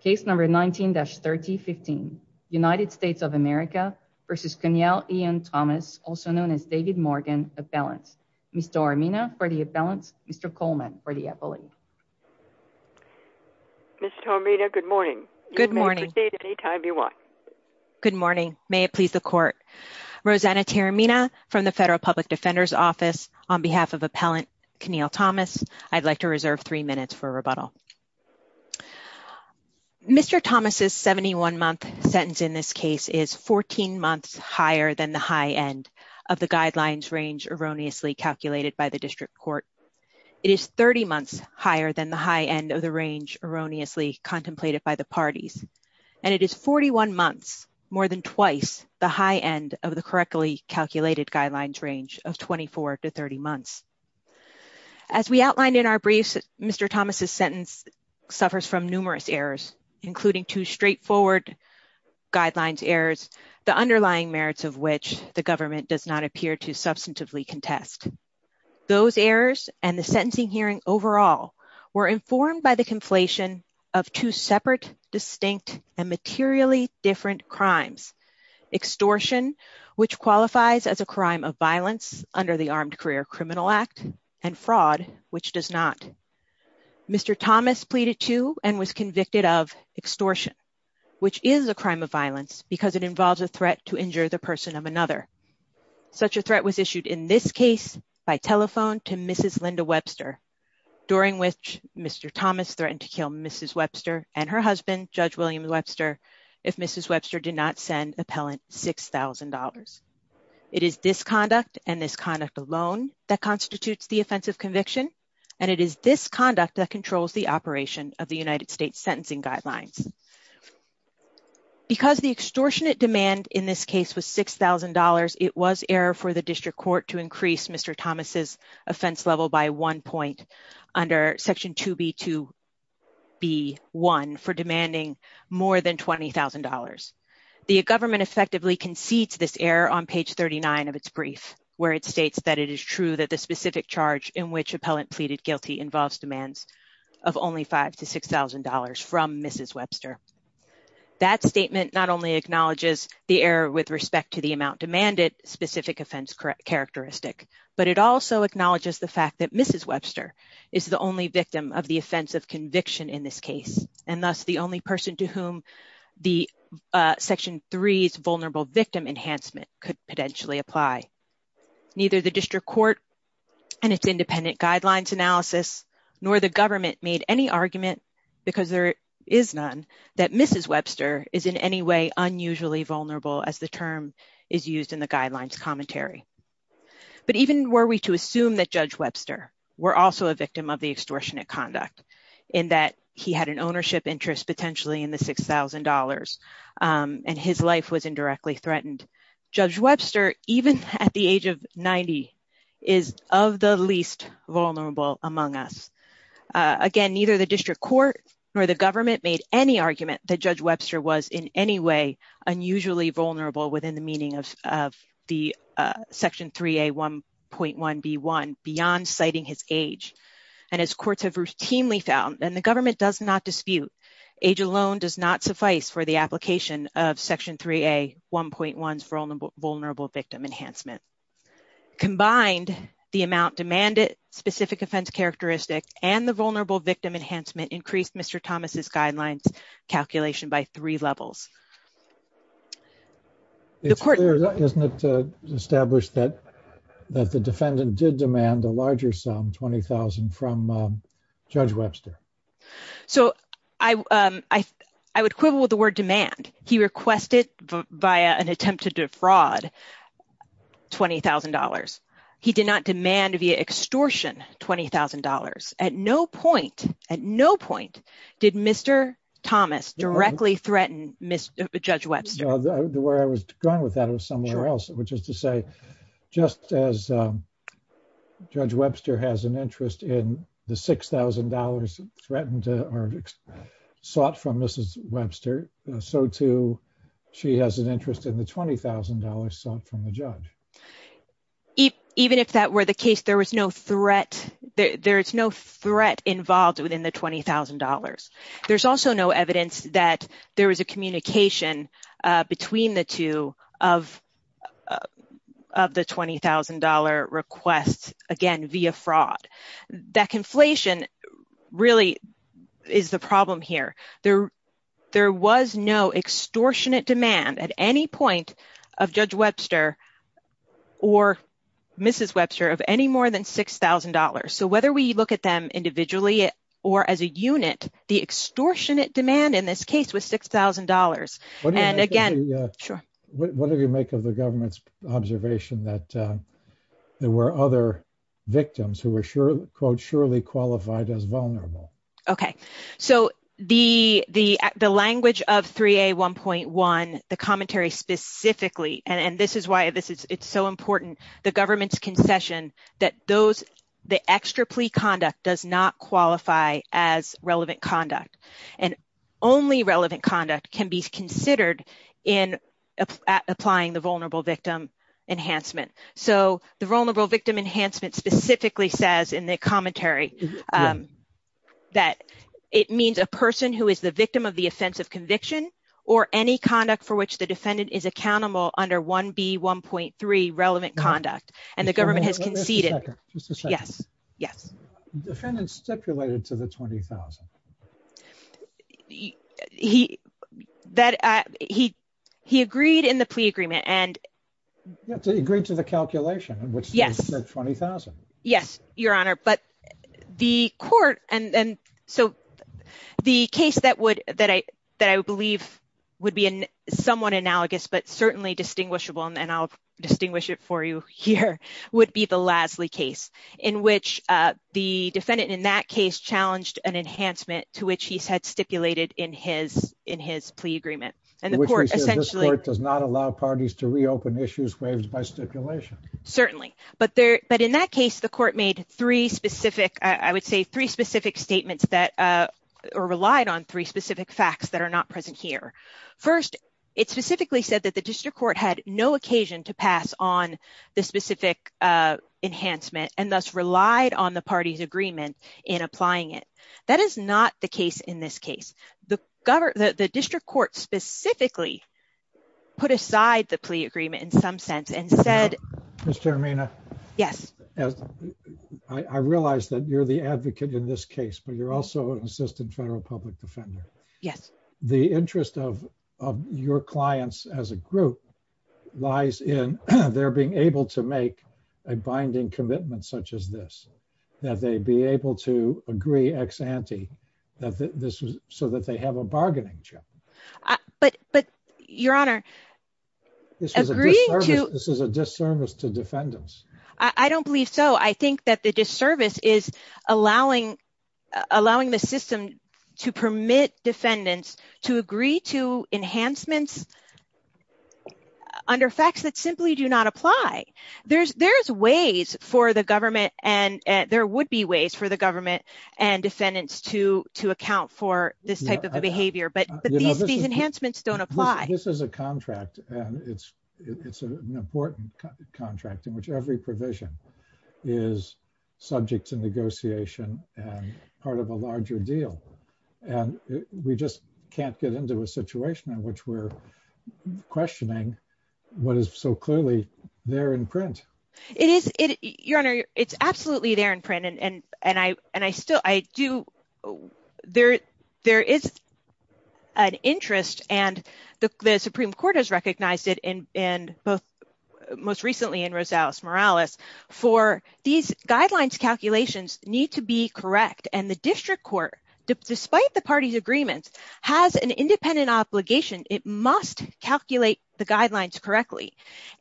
Case number 19-3015 United States of America v. Keniel Ian Thomas, also known as David Morgan, appellant. Ms. Tormina for the appellant, Mr. Coleman for the appellate. Ms. Tormina, good morning. Good morning. Good morning. May it please the court. Rosanna Tormina from the Federal Public Defender's Office on behalf of appellant Keniel Thomas. I'd like to reserve three minutes for rebuttal. Mr. Thomas' 71-month sentence in this case is 14 months higher than the high end of the guidelines range erroneously calculated by the district court. It is 30 months higher than the high end of the range erroneously contemplated by the parties, and it is 41 months, more than twice, the high end of the correctly calculated guidelines range of 24 to 30 months. As we recall, Mr. Thomas' sentence suffers from numerous errors, including two straightforward guidelines errors, the underlying merits of which the government does not appear to substantively contest. Those errors and the sentencing hearing overall were informed by the conflation of two separate, distinct, and materially different crimes. Extortion, which qualifies as a crime of violence under the Armed Career Criminal Act, and fraud, which does not. Mr. Thomas pleaded to and was convicted of extortion, which is a crime of violence because it involves a threat to injure the person of another. Such a threat was issued in this case by telephone to Mrs. Linda Webster, during which Mr. Thomas threatened to kill Mrs. Webster and her husband, Judge William Webster, if Mrs. Webster did not send appellant $6,000. It is this conduct and this conduct alone that constitutes the offensive conviction, and it is this conduct that controls the operation of the United States sentencing guidelines. Because the extortionate demand in this case was $6,000, it was error for the district court to increase Mr. Thomas' offense level by one point under Section 2B2B1 for demanding more than $20,000. The government effectively concedes this error on page 39 of its brief, where it states that it is true that the specific charge in which appellant pleaded guilty involves demands of only $5,000 to $6,000 from Mrs. Webster. That statement not only acknowledges the error with respect to the amount demanded, specific offense characteristic, but it also acknowledges the fact that Mrs. Webster is the only victim of the offensive conviction in this case, and Section 3's vulnerable victim enhancement could potentially apply. Neither the district court and its independent guidelines analysis, nor the government made any argument, because there is none, that Mrs. Webster is in any way unusually vulnerable as the term is used in the guidelines commentary. But even were we to assume that Judge Webster were also a victim of the extortionate and his life was indirectly threatened. Judge Webster, even at the age of 90, is of the least vulnerable among us. Again, neither the district court or the government made any argument that Judge Webster was in any way unusually vulnerable within the meaning of the Section 3A1.1B1, beyond citing his age. And as courts have routinely found, and the government does not dispute, age alone does not suffice for the application of Section 3A1.1's vulnerable victim enhancement. Combined, the amount demanded, specific offense characteristic, and the vulnerable victim enhancement increased Mr. Thomas's guidelines calculation by three levels. It's clear, isn't it established that the defendant did demand a larger sum, $20,000 from Judge Webster? So, I would quibble with the word demand. He requested via an attempt to defraud $20,000. He did not demand via extortion $20,000. At no point, at no point did Mr. Thomas directly threaten Judge Webster. The way I was going with that was somewhere else, which is to say, just as Judge Webster has an interest in the $6,000 threatened or sought from Mrs. Webster, so too, she has an interest in the $20,000 sought from the judge. Even if that were the case, there was no threat, there is no threat involved within the $20,000. There's also no evidence that there was a communication between the two of the $20,000 request, again, via fraud. That conflation really is the problem here. There was no extortionate demand at any point of Judge Webster or Mrs. Webster of any more than $6,000. So, whether we look at them individually or as a unit, the extortionate demand in this case was $6,000. And again... What do you make of the government's observation that there were other victims who were, quote, surely qualified as vulnerable? Okay. So, the language of 3A1.1, the commentary specifically, and this is why it's so important, the government's concession that those, the extra plea conduct does not qualify as relevant conduct. And only relevant conduct can be considered in applying the Vulnerable Victim Enhancement. So, the Vulnerable Victim Enhancement specifically says in the commentary that it means a person who is the victim of the offense of conviction or any conduct for which the defendant is accountable under 1B1.3, relevant conduct. And the government has conceded... Just a second. Yes. Yes. Defendant stipulated to the $20,000. He, that, he, he agreed in the plea agreement and... He agreed to the calculation in which he said $20,000. Yes, Your Honor. But the court, and so, the case that would, that I, that I believe would be somewhat analogous, but certainly distinguishable, and I'll distinguish it for you here, would be the Lasley case, in which the defendant in that case challenged an enhancement to which he said stipulated in his, in his plea agreement. And the court essentially... Which says this court does not allow parties to reopen issues raised by stipulation. Certainly. But there, but in that case, the court made three specific, I would say, three specific statements that, or relied on three specific facts that are not present here. First, it specifically said that the defendant did not rely on the specific enhancement and thus relied on the party's agreement in applying it. That is not the case in this case. The government, the district court specifically put aside the plea agreement in some sense and said... Ms. Termina. Yes. I realize that you're the advocate in this case, but you're also an assistant federal public defender. Yes. The interest of, of your clients as a group lies in their being able to make a binding commitment such as this. That they be able to agree ex ante that this was, so that they have a bargaining chip. But, but, Your Honor, agreeing to... This is a disservice to defendants. I don't believe so. I think that the disservice is allowing, allowing the system to permit defendants to agree to enhancements under facts that simply do not apply. There's, there's ways for the government and there would be ways for the government and defendants to, to account for this type of a behavior. But, but these enhancements don't apply. This is a contract and it's, it's an important contract in which every provision is subject to negotiation and part of a larger deal. And we just can't get into a situation in which we're questioning what is so clearly there in print. It is, it, Your Honor, it's absolutely there in print and, and I, and I still, I do, there, there is an interest and the Supreme Court has recognized it in, in both, most recently in Rosales-Morales, for these guidelines calculations need to be correct. And the district court, despite the party's agreements, has an independent obligation. It must calculate the guidelines correctly.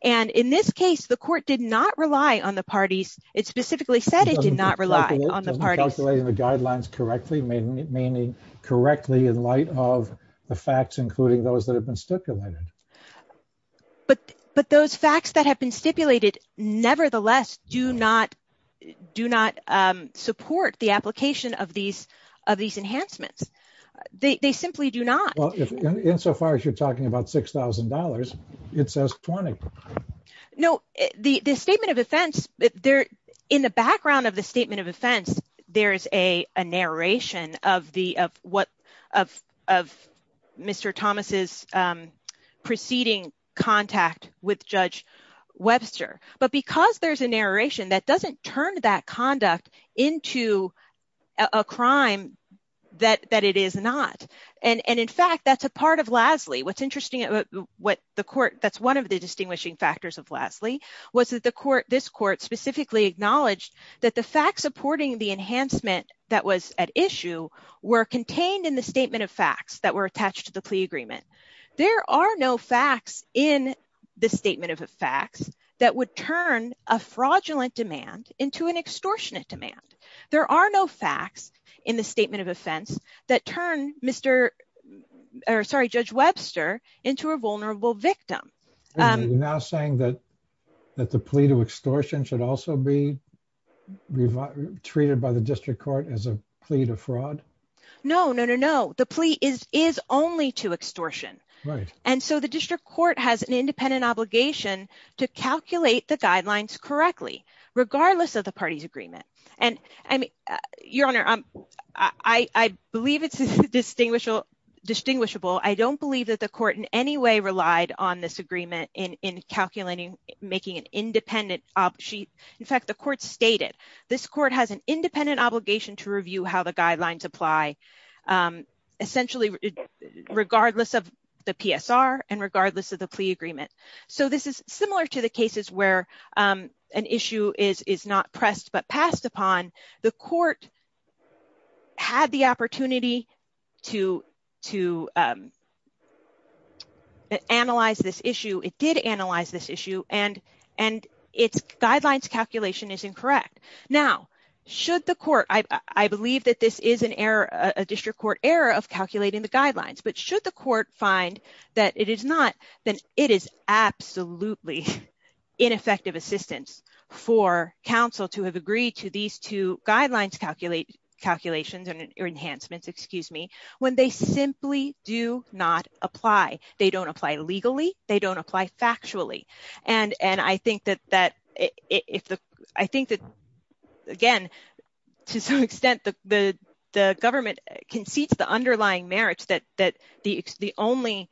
And in this case, the court did not rely on the parties. It specifically said it did not rely on the parties. Calculating the guidelines correctly, meaning correctly in light of the facts, including those that have been stipulated. But, but those facts that have been stipulated, nevertheless, do not, do not make a provision of these, of these enhancements. They, they simply do not. Well, insofar as you're talking about $6,000, it says $20,000. No, the, the statement of offense, there, in the background of the statement of offense, there is a narration of the, of what, of, of Mr. Thomas's preceding contact with Judge Webster. But because there's a narration that doesn't turn that conduct into a crime that, that it is not, and, and in fact, that's a part of Lasley. What's interesting about what the court, that's one of the distinguishing factors of Lasley, was that the court, this court, specifically acknowledged that the facts supporting the enhancement that was at issue were contained in the statement of facts that were attached to the plea agreement. There are no facts in the statement of facts that would turn a fraudulent demand into an extortionate demand. There are no facts in the statement of offense that turn Mr., or sorry, Judge Webster into a vulnerable victim. You're now saying that, that the plea to extortion should also be treated by the district court as a plea to fraud? No, no, no, no. The plea is, is only to extortion. Right. And so the district court has an independent obligation to calculate the guidelines correctly, regardless of the party's agreement. And, I mean, Your Honor, I believe it's distinguishable, I don't believe that the court in any way relied on this agreement in calculating, making an independent, she, in fact, the court stated, this court has an independent obligation to review how the guidelines apply. Essentially, regardless of the PSR and regardless of the plea agreement. So this is similar to the cases where an issue is, is not pressed, but passed upon, the court had the opportunity to, to analyze this issue. It did analyze this issue and, and its guidelines calculation is incorrect. Now, should the court, I believe that this is an error, a district court error of calculating the guidelines, but should the court find that it is not, then it is absolutely ineffective assistance for counsel to have agreed to these two guidelines, calculate, calculations or enhancements, excuse me, when they simply do not apply. They don't apply legally. They don't apply factually. And, and I think that, that if the, I think that again, to some extent the, the government concedes the underlying merits that, that the, the only,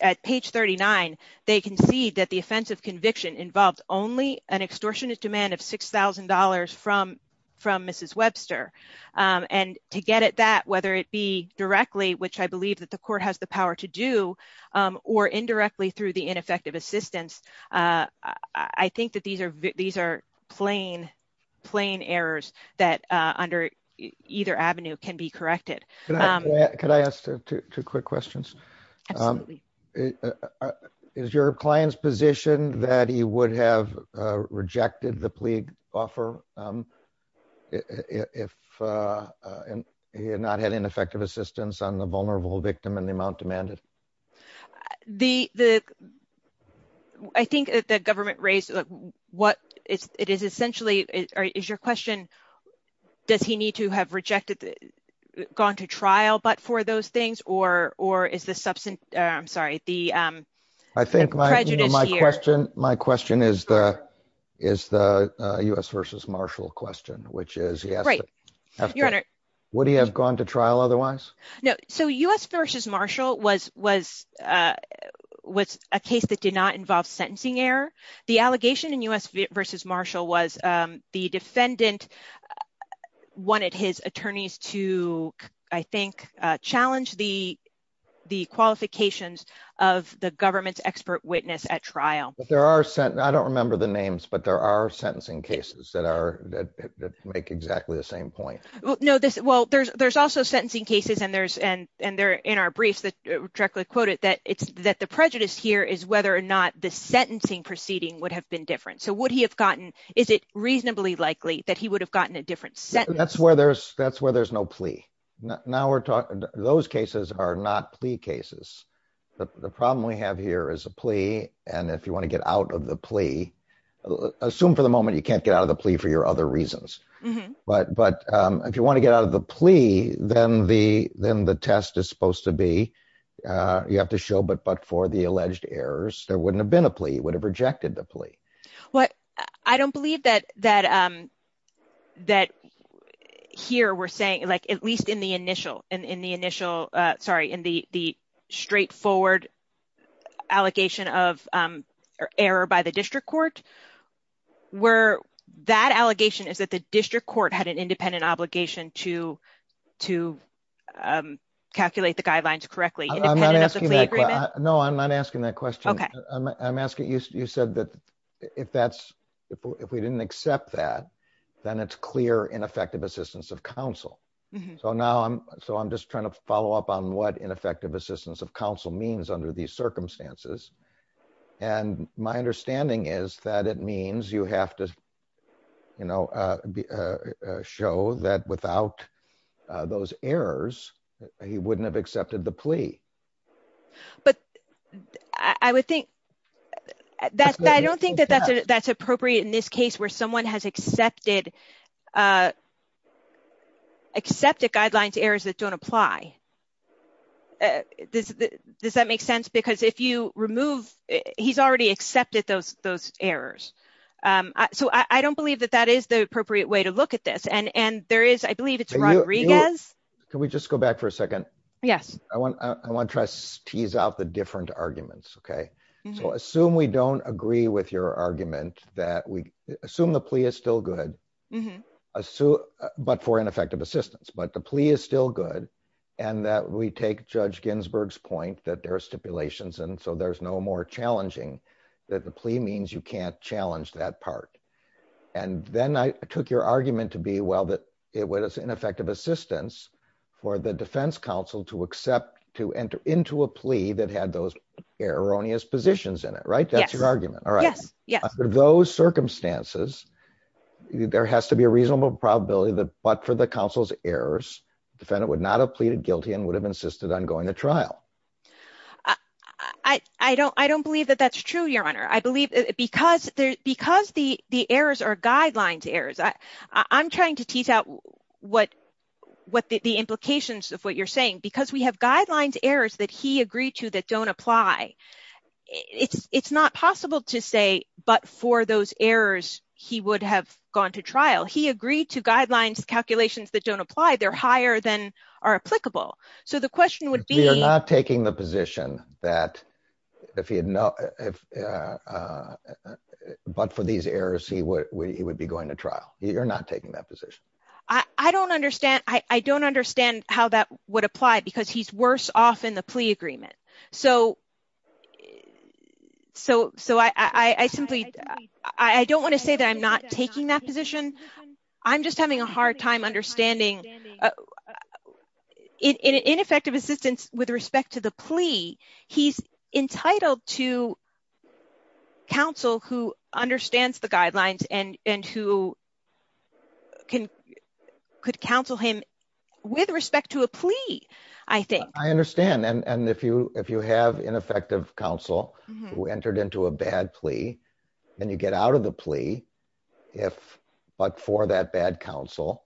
at page 39, they concede that the offense of conviction involves only an extortionate demand of $6,000 from, from Mrs. Webster. And to get at that, whether it be directly, which I believe that the court has the power to do, or indirectly through the ineffective assistance, I think that these are, these are plain, plain errors that under either avenue can be corrected. Can I ask two quick questions? Is your client's position that he would have rejected the plea offer if he had not had ineffective assistance on the vulnerable victim and the amount demanded? The, the, I think that the government raised what it is essentially, is your question, does he need to have rejected, gone to trial, but for those things, or, or is the substance, I'm sorry, the, I think my question, my question is the, is the U.S. versus Marshall question, which is, yes, right. Your Honor, would he have gone to trial otherwise? No, so U.S. versus Marshall was, was, was a case that did not involve sentencing error. The allegation in U.S. versus Marshall was the defendant wanted his attorneys to, I think, challenge the, the qualifications of the government's expert witness at trial. But there are sent, I don't remember the names, but there are sentencing cases that are, that make exactly the same point. No, this, well, there's, there's also sentencing cases and there's, and, and there, in our briefs that directly quote it, that it's, that the prejudice here is whether or not the sentencing proceeding would have been different. So would he have gotten, is it reasonably likely that he would have gotten a different sentence? That's where there's, that's where there's no plea. Now we're talking, those cases are not plea cases. The problem we have here is a plea, and if you want to get out of the plea, assume for the moment you can't get out of the plea for your other reasons. But, but if you want to get out of the plea, then the, then the test is supposed to be, you have to show, but, but for the alleged errors, there wouldn't have been a plea, you would have rejected the plea. What, I don't believe that, that, that here we're saying, like, at least in the initial, in the initial, sorry, in the, the straightforward allegation of error by the district court, where that allegation is that the district court had an independent obligation to, to calculate the guidelines correctly. Independent of the plea agreement. No, I'm not asking that question. Okay. I'm asking, you said that if that's, if we didn't accept that, then it's clear ineffective assistance of counsel. So now I'm, so I'm just trying to follow up on what ineffective assistance of counsel means under these circumstances. And my understanding is that it means you have to, you know, show that without those errors, he wouldn't have accepted the plea. But I would think that's, I don't think that that's appropriate in this case where someone has accepted, accepted guidelines errors that don't apply. Does that make sense? Because if you remove, he's already accepted those, those errors. So I don't believe that that is the appropriate way to look at this. And, and there is, I believe it's Rodriguez. Can we just go back for a second? Yes. I want, I want to try to tease out the different arguments. Okay. So assume we don't agree with your argument that we assume the plea is still good, but for ineffective assistance, but the plea is still good. And that we take judge Ginsburg's point that there are stipulations. And so there's no more challenging that the plea means you can't challenge that part. And then I took your argument to be well, that it was ineffective assistance for the defense counsel to accept, to enter into a plea that had those erroneous positions in it. Right. That's your argument. All right. Yes. Yes. Those circumstances, there has to be a reasonable probability that, but for the counsel's errors, defendant would not have pleaded guilty and would have insisted on going to trial. I don't, I don't believe that that's true. Your Honor. I believe because there, because the, the errors are guidelines errors. I, I'm trying to tease out what, what the implications of what you're saying because we have guidelines errors that he agreed to that don't apply. It's not possible to say, but for those errors, he would have gone to trial. He agreed to guidelines calculations that don't apply. They're higher than are applicable. So the question would be. You're not taking the position that if he had no, if, but for these errors, he would, he would be going to trial. You're not taking that position. I don't understand. I don't understand how that would apply because he's worse off in the plea agreement. So, so, so I, I, I simply, I don't want to say that I'm not taking that position. I'm just having a hard time understanding. In, in, in effective assistance with respect to the plea, he's entitled to counsel who understands the guidelines and, and who can, could counsel him with respect to a plea, I think. I understand. And, and if you, if you have ineffective counsel who entered into a bad plea, and you get out of the plea, if, but for that bad counsel,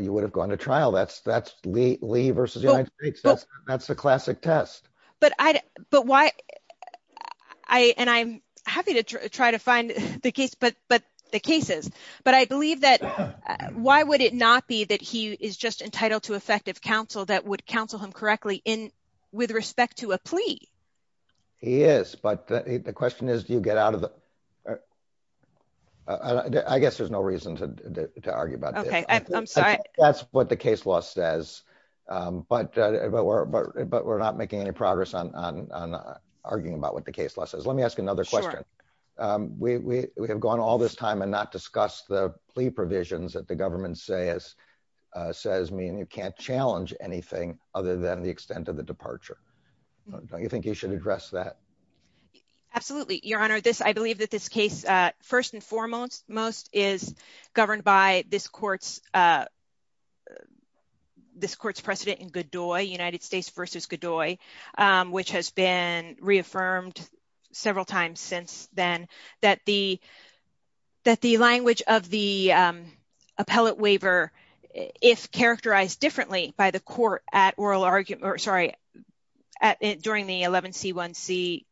you would have gone to trial. That's, that's Lee versus United States. That's the classic test. But I, but why I, and I'm happy to try to find the case, but, but the cases, but I believe that why would it not be that he is just entitled to effective counsel that would counsel him correctly in, with respect to a plea? He is. But the question is, do you get out of the, I guess there's no reason to, to argue about that. Okay. I'm sorry. That's what the case law says. But, but we're, but we're not making any progress on, on, on arguing about what the case law says. Let me ask another question. We have gone all this time and not discussed the plea provisions that the government says, says mean you can't challenge anything other than the extent of the departure. Don't you think you should address that? Absolutely. Your Honor, this, I believe that this case, first and foremost, most is governed by this court's, this court's precedent in Godoy, United States versus Godoy, which has been reaffirmed several times since then, that the, that the language of the appellate waiver, if characterized differently by the court at oral argument, or sorry, at, during the 11C1C.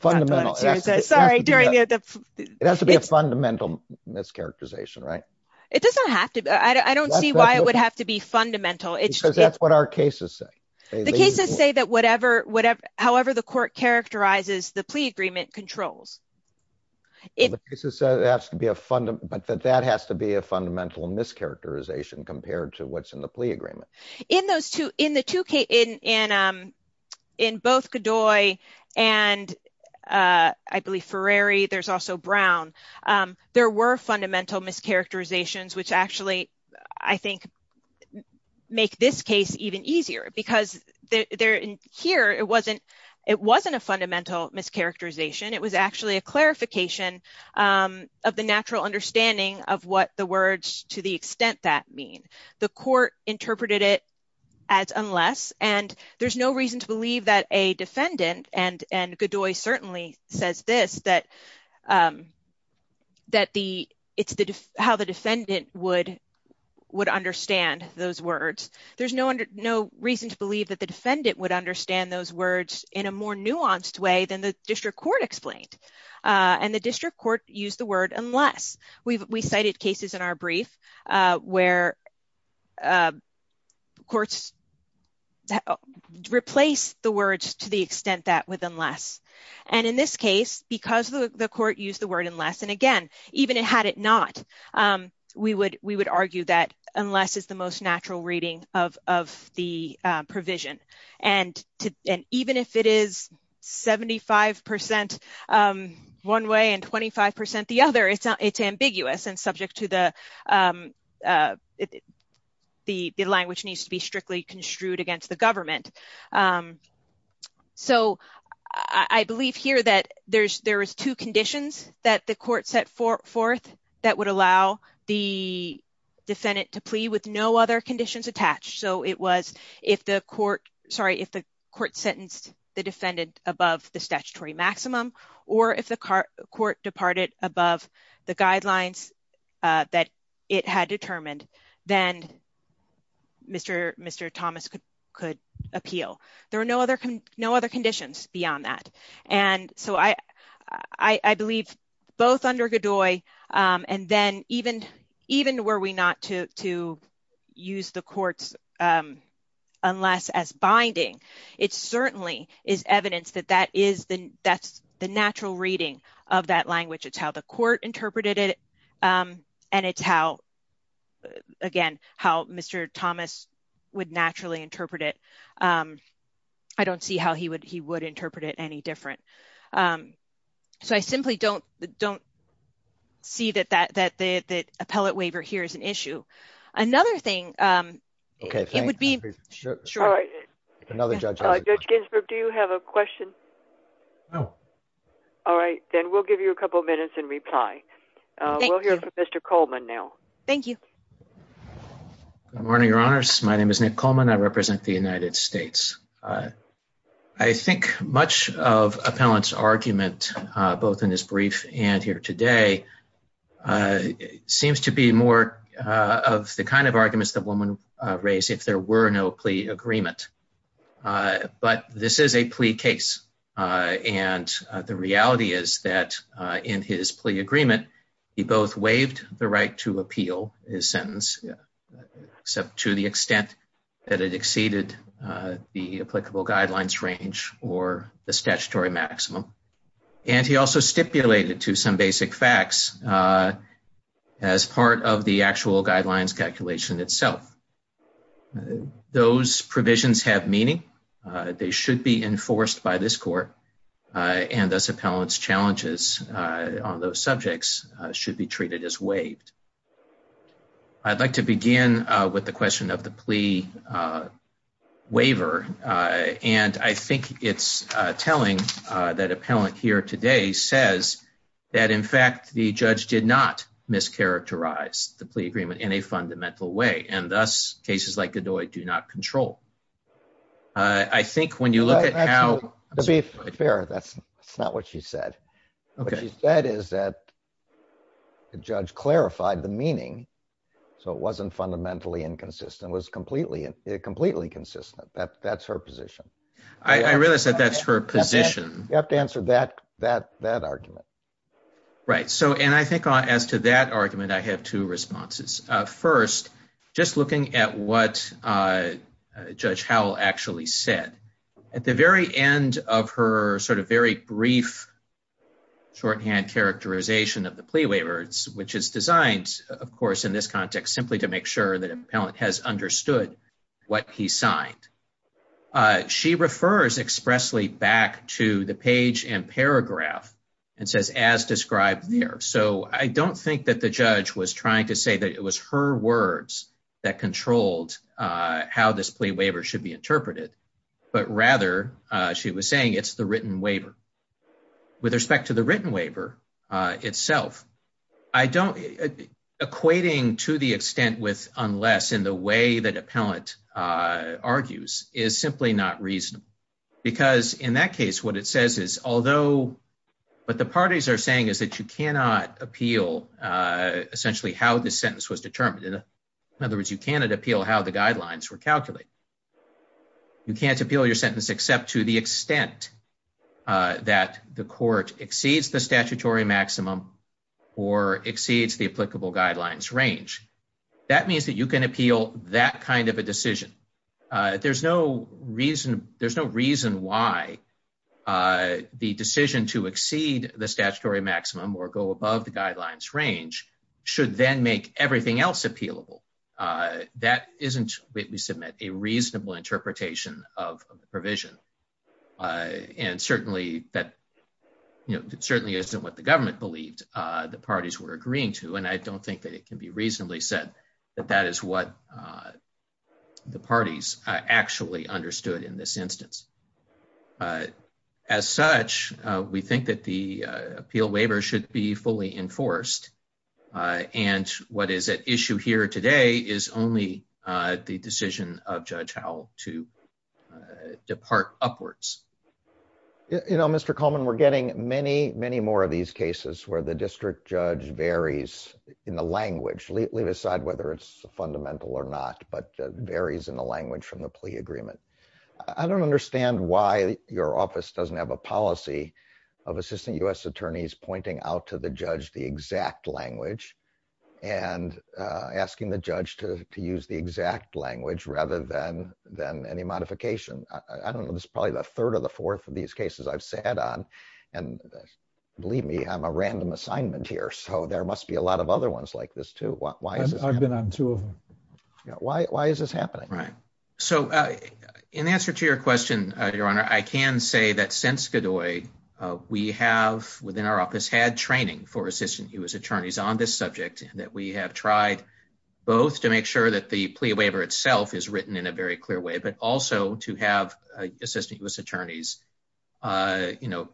Fundamental. Sorry. During the, it has to be a fundamental mischaracterization, right? It doesn't have to be. I don't see why it would have to be fundamental. It's because that's what our cases say. The cases say that whatever, whatever, however, the court characterizes the plea agreement controls. It has to be a fundamental, but that has to be a fundamental mischaracterization compared to what's in the plea agreement. In those two, in the two cases, in, in, in both Godoy and I believe Ferreri, there's also Brown, there were fundamental mischaracterizations, which actually, I think, make this case even easier because there, here, it wasn't, it wasn't a fundamental mischaracterization. It was actually a clarification of the natural understanding of what the words to the extent that mean. The court interpreted it as unless, and there's no reason to believe that a defendant, and, and Godoy certainly says this, that, that the, it's the, how the defendant would, would understand those words. There's no, no reason to believe that the defendant would understand those words in a more nuanced way than the district court explained. And the district court used the word unless. We've, we cited cases in our brief where courts replace the words to the extent that with unless, and in this case, because the court used the word unless, and again, even it had it not, we would, we would argue that unless is the most natural reading of, of the provision, and to, and even if it is 75% one way and 25% the other, it's not, it's ambiguous and subject to the, the, the language needs to be strictly construed against the government. So I believe here that there's, there is two conditions that the court set forth that would allow the defendant to plea with no other conditions attached. So it was if the court, sorry, if the court sentenced the defendant above the statutory maximum, or if the court departed above the guidelines that it had determined, then Mr. Mr. Thomas could, could appeal. There are no other, no other conditions beyond that. And so I, I believe both under Godoy and then even, even were we not to, to use the courts unless as binding, it certainly is evidence that that is the, that's the natural reading of that language. It's how the court interpreted it. And it's how, again, how Mr. Thomas would naturally interpret it. I don't see how he would, he would interpret it any different. So I simply don't, don't see that, that, that the, the appellate waiver here is an issue. Another thing it would be another judge. Judge Ginsburg, do you have a question? No. All right, then we'll give you a couple of minutes and reply. We'll hear from Mr. Coleman now. Thank you. Good morning, your honors. My name is Nick Coleman. I represent the United States. I think much of appellant's argument, both in his brief and here today, seems to be more of the kind of arguments that women raise if there were no plea agreement. But this is a plea case. And the reality is that in his plea agreement, he both waived the right to appeal his sentence, except to the extent that it exceeded the applicable guidelines range or the statutory maximum. And he also stipulated to some basic facts as part of the actual guidelines calculation itself. Those provisions have meaning. They should be enforced by this court and thus appellant's challenges on those subjects should be treated as waived. I'd like to begin with the question of the plea waiver. And I think it's telling that appellant here today says that, in fact, the judge did not mischaracterize the plea agreement in a fundamental way. And thus, cases like Godoy do not control. I think when you look at how... To be fair, that's not what she said. What she said is that the judge clarified the meaning, so it wasn't fundamentally inconsistent. It was completely consistent. That's her position. I realize that that's her position. You have to answer that argument. Right. So, and I think as to that argument, I have two responses. First, just looking at what Judge Howell actually said. At the very end of her sort of very brief shorthand characterization of the plea waiver, which is designed, of course, in this context, simply to make sure that she refers expressly back to the page and paragraph and says, as described there. So, I don't think that the judge was trying to say that it was her words that controlled how this plea waiver should be interpreted, but rather she was saying it's the written waiver. With respect to the written waiver itself, I don't... to the extent with unless in the way that appellant argues is simply not reasonable. Because in that case, what it says is, although what the parties are saying is that you cannot appeal essentially how this sentence was determined. In other words, you cannot appeal how the guidelines were calculated. You can't appeal your sentence except to the extent that the court exceeds the That means that you can appeal that kind of a decision. There's no reason. There's no reason why the decision to exceed the statutory maximum or go above the guidelines range should then make everything else appealable. That isn't, we submit, a reasonable interpretation of the provision. And certainly that, you know, it certainly isn't what the government believed the parties were agreeing to. And I don't think that it can be reasonably said that that is what the parties actually understood in this instance. As such, we think that the appeal waiver should be fully enforced. And what is at issue here today is only the decision of Judge Howell to depart upwards. You know, Mr. District Judge varies in the language, leave aside whether it's fundamental or not, but varies in the language from the plea agreement. I don't understand why your office doesn't have a policy of assistant U.S. attorneys pointing out to the judge the exact language and asking the judge to use the exact language rather than than any modification. I don't know. This is probably the third of the fourth of these cases. I've sat on and Believe me. I'm a random assignment here. So there must be a lot of other ones like this too. Why is it? I've been on two of them. Why is this happening? Right? So in answer to your question, your honor, I can say that since Godoy, we have within our office had training for assistant U.S. attorneys on this subject that we have tried both to make sure that the plea waiver itself is written in a very clear way, but also to have assistant U.S. attorneys, you know,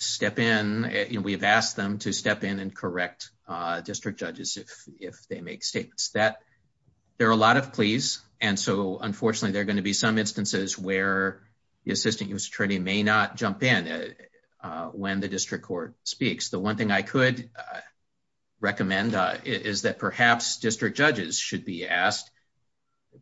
step in, you know, we have asked them to step in and correct district judges. If they make statements that there are a lot of pleas. And so unfortunately, they're going to be some instances where the assistant U.S. attorney may not jump in when the district court speaks. The one thing I could recommend is that perhaps district judges should be asked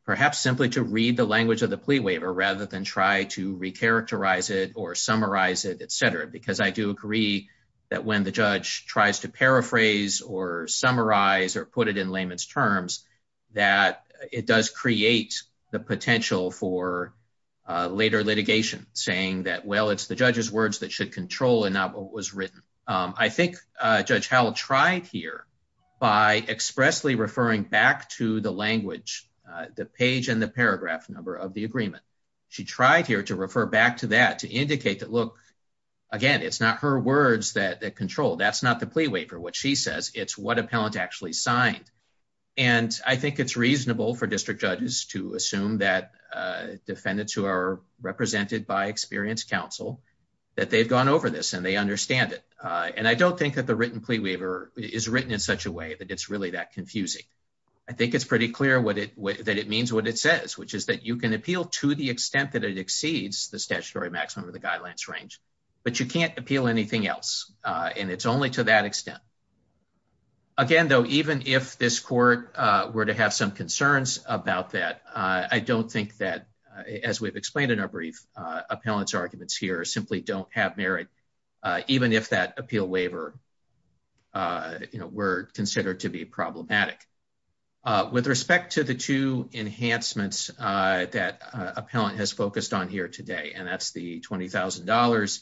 perhaps simply to read the language of the plea waiver rather than try to recharacterize it or summarize it, etc. Because I do agree that when the judge tries to paraphrase or summarize or put it in layman's terms that it does create the potential for later litigation saying that, well, it's the judge's words that should control and not what was written. I think Judge Howell tried here by expressly referring back to the language the page and the paragraph number of the agreement. She tried here to refer back to that to indicate that, look, again, it's not her words that control. That's not the plea waiver. What she says, it's what appellant actually signed. And I think it's reasonable for district judges to assume that defendants who are represented by experienced counsel that they've gone over this and they understand it. And I don't think that the written plea waiver is written in such a way that it's really that confusing. I think it's pretty clear what it that it means what it says, which is that you can appeal to the extent that it exceeds the statutory maximum of the guidelines range, but you can't appeal anything else. And it's only to that extent. Again, though, even if this court were to have some concerns about that, I don't think that as we've explained in our brief appellant's arguments here, simply don't have merit, even if that appeal waiver were considered to be problematic. With respect to the two enhancements that appellant has focused on here today, and that's the $20,000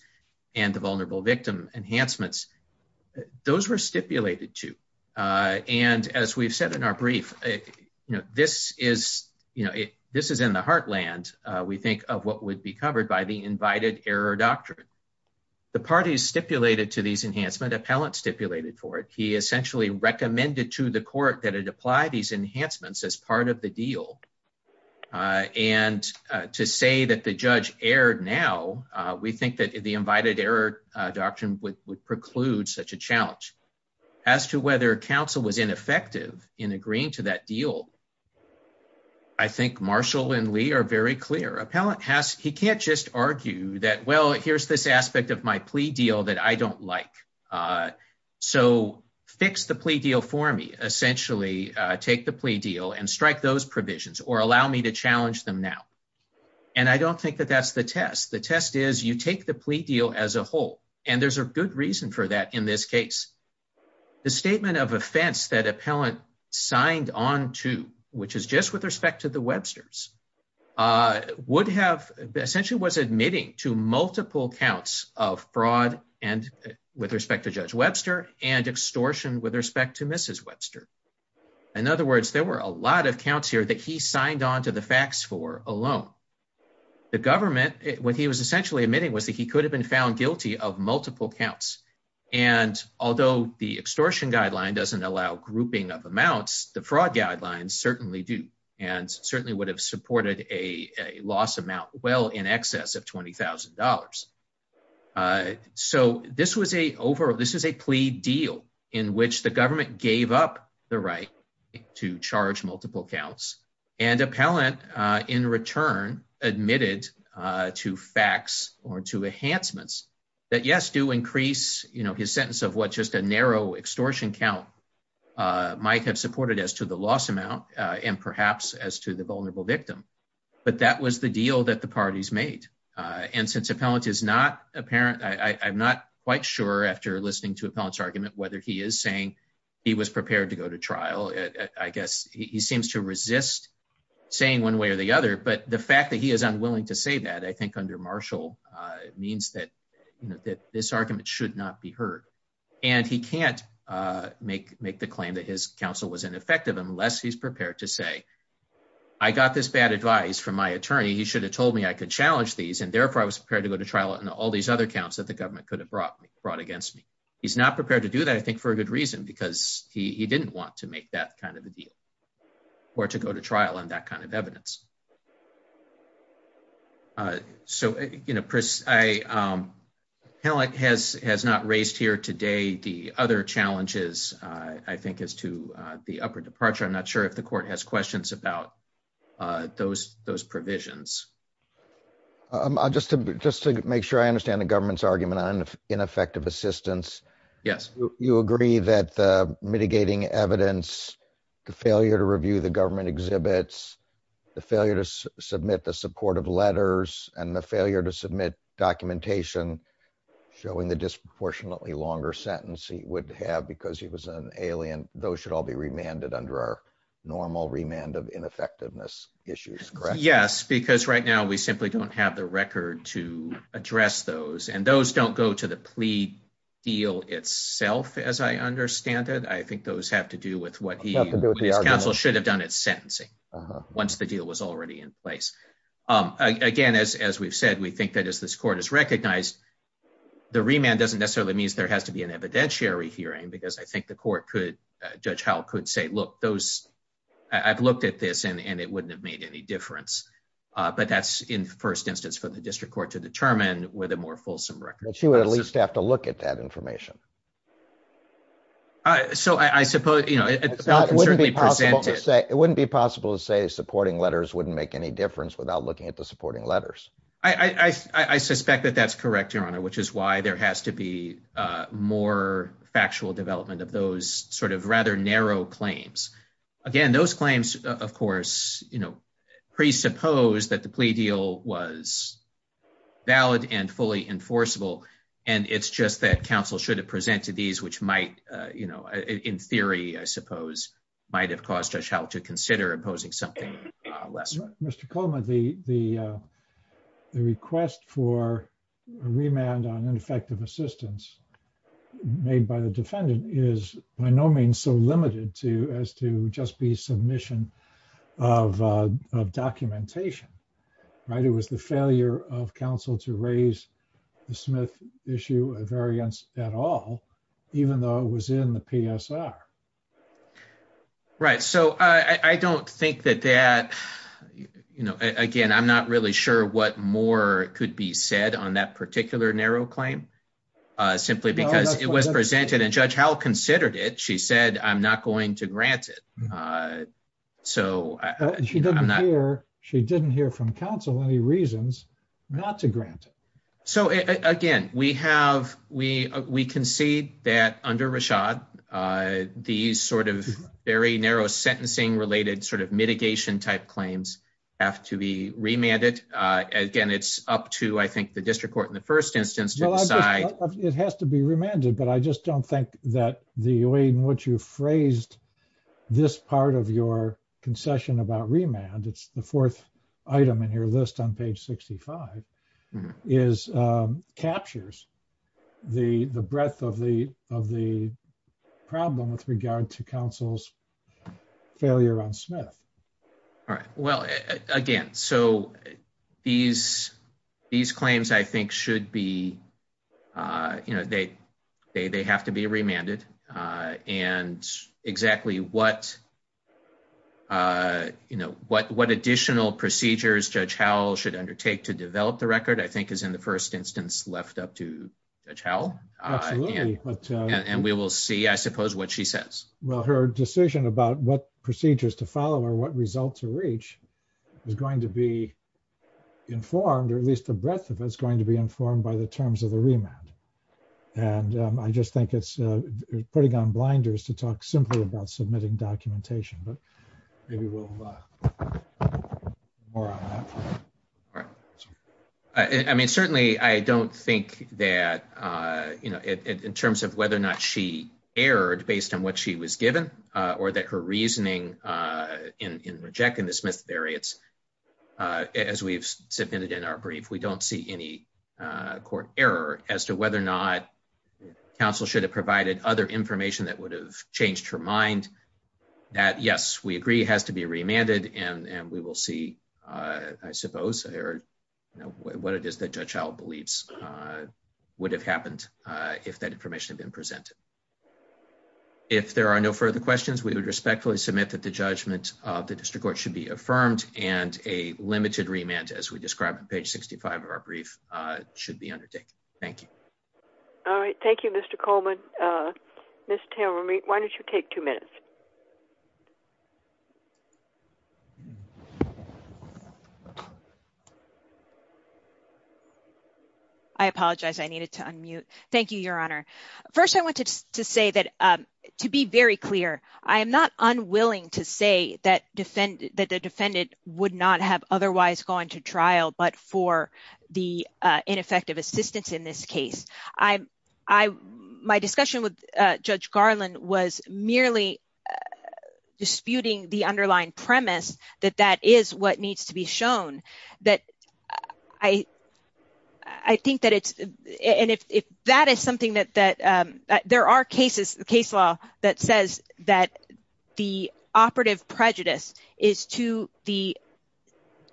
and the vulnerable victim enhancements, those were stipulated to and as we've said in our brief, you know, this is, you know, this is in the heartland. We think of what would be covered by the invited error doctrine. The parties stipulated to these enhancement appellant stipulated for it. He essentially recommended to the court that it apply these enhancements as part of the deal. And to say that the judge erred now, we think that the invited error doctrine would preclude such a challenge. As to whether counsel was ineffective in agreeing to that deal, I think Marshall and Lee are very clear. Appellant has, he can't just argue that, well, here's this aspect of my plea deal that I don't like. So fix the plea deal for me, essentially take the plea deal and strike those provisions or allow me to challenge them now. And I don't think that that's the test. The test is you take the plea deal as a whole, and there's a good reason for that in this case. The statement of offense that appellant signed on to, which is just with respect to the Webster's, would have essentially was admitting to multiple counts of with respect to Judge Webster and extortion with respect to Mrs. Webster. In other words, there were a lot of counts here that he signed on to the facts for alone. The government, what he was essentially admitting was that he could have been found guilty of multiple counts. And although the extortion guideline doesn't allow grouping of amounts, the fraud guidelines certainly do, and certainly would have supported a loss amount well in excess of $20,000. Dollars. So this was a over. This is a plea deal in which the government gave up the right to charge multiple counts and appellant in return admitted to facts or to enhancements that yes do increase, you know, his sentence of what just a narrow extortion count might have supported as to the loss amount and perhaps as to the vulnerable victim. But that was the deal that the parties made. And since appellant is not apparent, I'm not quite sure after listening to appellant's argument whether he is saying he was prepared to go to trial. I guess he seems to resist saying one way or the other, but the fact that he is unwilling to say that I think under Marshall means that you know that this argument should not be heard and he can't make make the claim that his counsel was ineffective unless he's prepared to say I got this bad advice from my attorney. He should have told me I could challenge these and therefore I was prepared to go to trial and all these other counts that the government could have brought me brought against me. He's not prepared to do that. I think for a good reason because he didn't want to make that kind of a deal or to go to trial and that kind of evidence. So, you know, Chris, I appellant has has not raised here today. The other challenges I think is to the upper departure. I'm not sure if the court has questions about those those provisions. Just to just to make sure I understand the government's argument on ineffective assistance. Yes, you agree that the mitigating evidence the failure to review the government exhibits the failure to submit the support of letters and the failure to submit documentation showing the disproportionately longer sentence he would have because he was an alien. Those should all be remanded under our normal remand of ineffectiveness issues, correct? Yes, because right now we simply don't have the record to address those and those don't go to the plea deal itself as I understand it. I think those have to do with what he should have done. It's sentencing once the deal was already in place again, as we've said we think that as this court is recognized the remand doesn't necessarily means there has to be an evidentiary hearing because I think the court could judge how could say look those I've looked at this and it wouldn't have made any difference, but that's in first instance for the district court to determine with a more fulsome record. She would at least have to look at that information. So I suppose, you know, it wouldn't be possible to say it wouldn't be possible to say supporting letters wouldn't make any difference without looking at the supporting letters. I I suspect that that's correct your honor, which is why there has to be more factual development of those sort of rather narrow claims again. Those claims of course, you know presuppose that the plea deal was valid and fully enforceable and it's just that counsel should have presented these which might you know, in theory, I suppose might have caused us how to consider imposing something less. Mr. Coleman the the the request for a remand on ineffective assistance made by the defendant is by no means so limited to as to just be submission of documentation, right? It was the failure of counsel to raise the Smith issue a variance at all, even though it was in the PSR. Right? So I don't think that that you know, again, I'm not really sure what more could be said on that particular narrow claim simply because it was presented and judge how considered it. She said I'm not going to grant it. So I'm not here. She didn't hear from counsel any reasons not to grant it. So again, we have we we can see that under Rashad these sort of very narrow sentencing related sort of mitigation type claims have to be remanded again. It's up to I think the district court in the first instance to decide it has to be remanded but I just don't think that the way in which you phrased this part of your concession about remand. It's the fourth item in your list on page 65 is captures the the With regard to counsel's failure on Smith. All right. Well again, so these these claims I think should be you know, they they have to be remanded and exactly what you know, what what additional procedures judge Howell should undertake to develop the record I think is in the first instance left up to a towel and we will see I suppose what she says. Well her decision about what procedures to follow or what results to reach is going to be informed or at least the breadth of it's going to be informed by the terms of the remand and I just think it's putting on blinders to talk simply about submitting documentation, but maybe we'll I mean certainly I don't think that you know in terms of whether or not she erred based on what she was given or that her reasoning in rejecting the Smith variance as we've submitted in our brief. We don't see any court error as to whether or not counsel should have provided other information that would have changed her mind that yes, we agree has to be remanded and we will see I suppose or what it is that judge Howell believes would have happened if that information had been presented. If there are no further questions, we would respectfully submit that the judgment of the district court should be affirmed and a limited remand as we described on page 65 of our brief should be undertaken. Thank you. All right. Thank you. Mr. Coleman. Mr. Taylor meet. Why don't you take two minutes? I apologize. I needed to unmute. Thank you, your honor. First. I wanted to say that to be very clear. I am not unwilling to say that defend that the defendant would not have otherwise going to trial but for the ineffective assistance in this case. I I my discussion with judge Garland was merely disputing the underlying premise that that is what needs to be shown that I I think that it's and if that is something that that there are cases case law that says that the operative prejudice is to the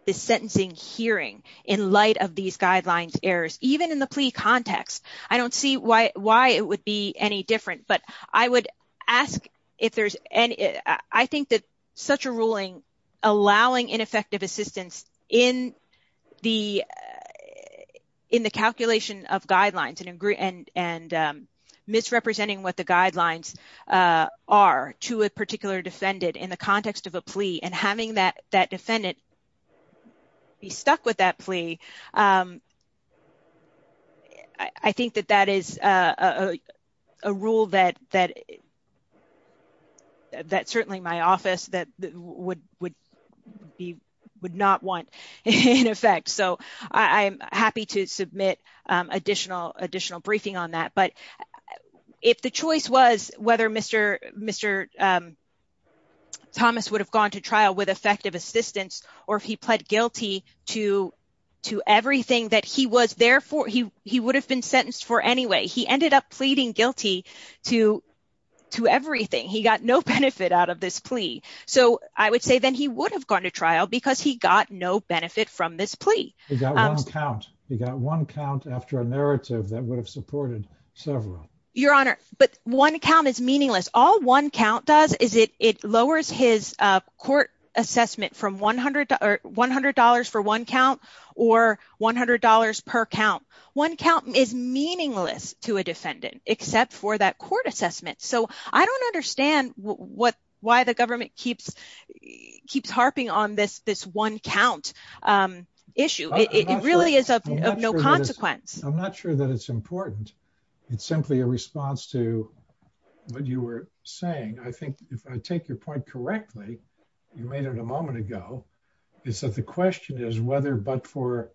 the sentencing hearing in light of these guidelines errors even in the plea context. I don't see why why it would be any different but I would ask if there's any I think that such a ruling allowing ineffective assistance in the in the calculation of guidelines and agree and and misrepresenting what the guidelines are to a particular defendant in the context of a plea and having that that defendant be stuck with that plea. I think that that is a rule that that that certainly my office that would would be would not want in effect. So I'm happy to submit additional additional briefing on that. But if the choice was whether Mr. Mr. Thomas would have gone to trial with effective assistance or if he pled guilty to to everything that he was there for he he would have been sentenced for anyway, he ended up pleading guilty to to everything. He got no benefit out of this plea. So I would say then he would have gone to trial because he got no benefit from this plea count. He got one count after a narrative that would have supported several your honor, but one account is meaningless. All one count does is it it lowers his court assessment from 100 to $100 for one count or $100 per count one count is meaningless to a defendant except for that court assessment. So I don't understand what why the government keeps keeps harping on this this one count issue. It really is of no consequence. I'm not sure that it's important. It's simply a response to what you were saying. I think if I take your point correctly, you made it a moment ago is that the question is whether but for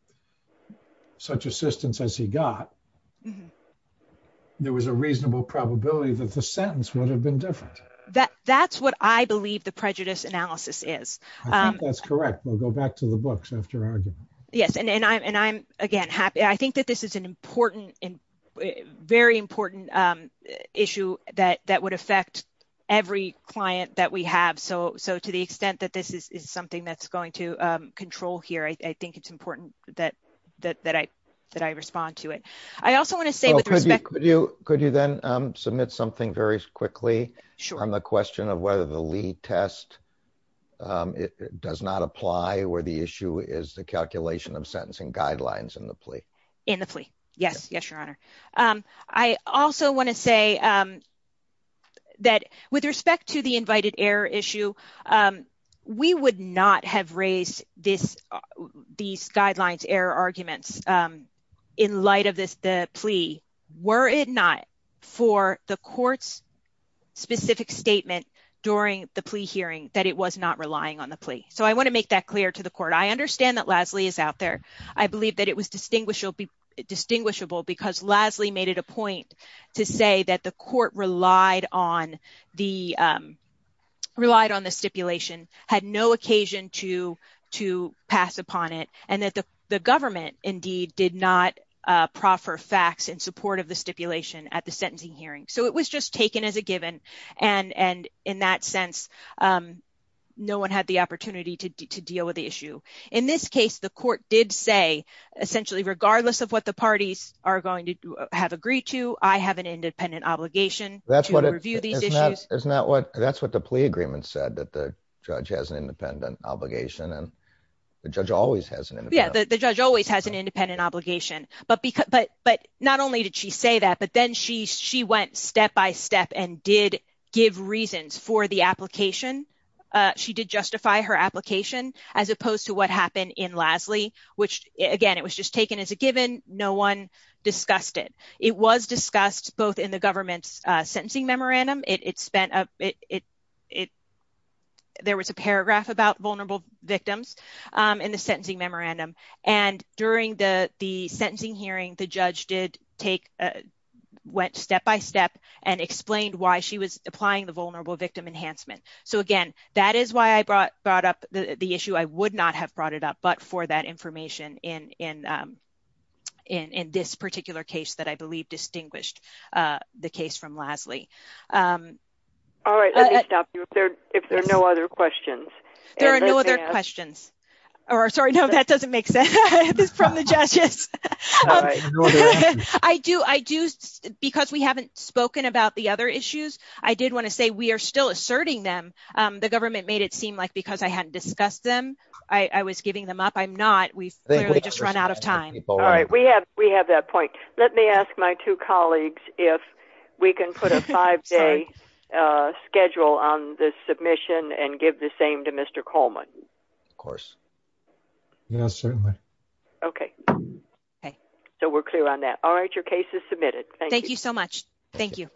such assistance as he got there was a reasonable probability that the sentence would have been different that that's what I believe the prejudice analysis is that's correct. We'll go back to the books after argument. Yes, and I'm and I'm again happy. I think that this is an important and very important issue that that would affect every client that we have. So so to the extent that this is something that's going to control here. I think it's important that that I that I respond to it. I also want to say with respect to you. Could you then submit something very quickly? Sure. I'm a question of whether the lead test it does not apply where the issue is the calculation of sentencing guidelines in the plea in the plea. Yes. Yes, your Honor. I also want to say that with respect to the invited air issue, we would not have raised this these guidelines error arguments in light of this the plea were it not for the courts specific statement during the plea hearing that it was not relying on the plea. So I want to make that clear to the court. I understand that Lasley is out there. I believe that it was distinguished will be distinguishable because Lasley made it a point to say that the court relied on the relied on the stipulation had no occasion to to pass upon it and that the government indeed did not proffer facts in support of the stipulation at the sentencing hearing. So it was just taken as a given and and in that sense, no one had the opportunity to deal with the issue in this case. The court did say essentially regardless of what the parties are going to have agreed to I have an independent obligation. That's what I review these issues. Isn't that what that's what the plea agreement said that the judge has an independent obligation and the judge always has an independent. Yeah, the judge always has an independent obligation but because but but not only did she say that but then she she went step by step and did give reasons for the application. She did justify her application as opposed to what happened in Lasley, which again, it was just taken as a given. No one discussed it. It was discussed both in the government's sentencing memorandum. It spent up it it there was a paragraph about vulnerable victims in the sentencing memorandum and during the the sentencing hearing the judge did take went step by step and explained why she was applying the vulnerable victim enhancement. So again, that is why I brought brought up the issue. I would not have brought it up but for that information in in in this particular case that I believe distinguished the case from Lasley. All right, let me stop you if there if there are no other questions, there are no other questions or sorry. No, that doesn't make sense from the judges. I do I do because we haven't spoken about the other issues. I did want to say we are still asserting them the government made it seem like because I hadn't discussed them. I was giving them up. I'm not we've literally just run out of time. All right, we have we have that point. Let me ask my two colleagues if we can put a five day schedule on this submission and give the same to Mr. Coleman, of course. Yes, certainly. Okay. Hey, so we're clear on that. All right, your case is submitted. Thank you so much. Thank you.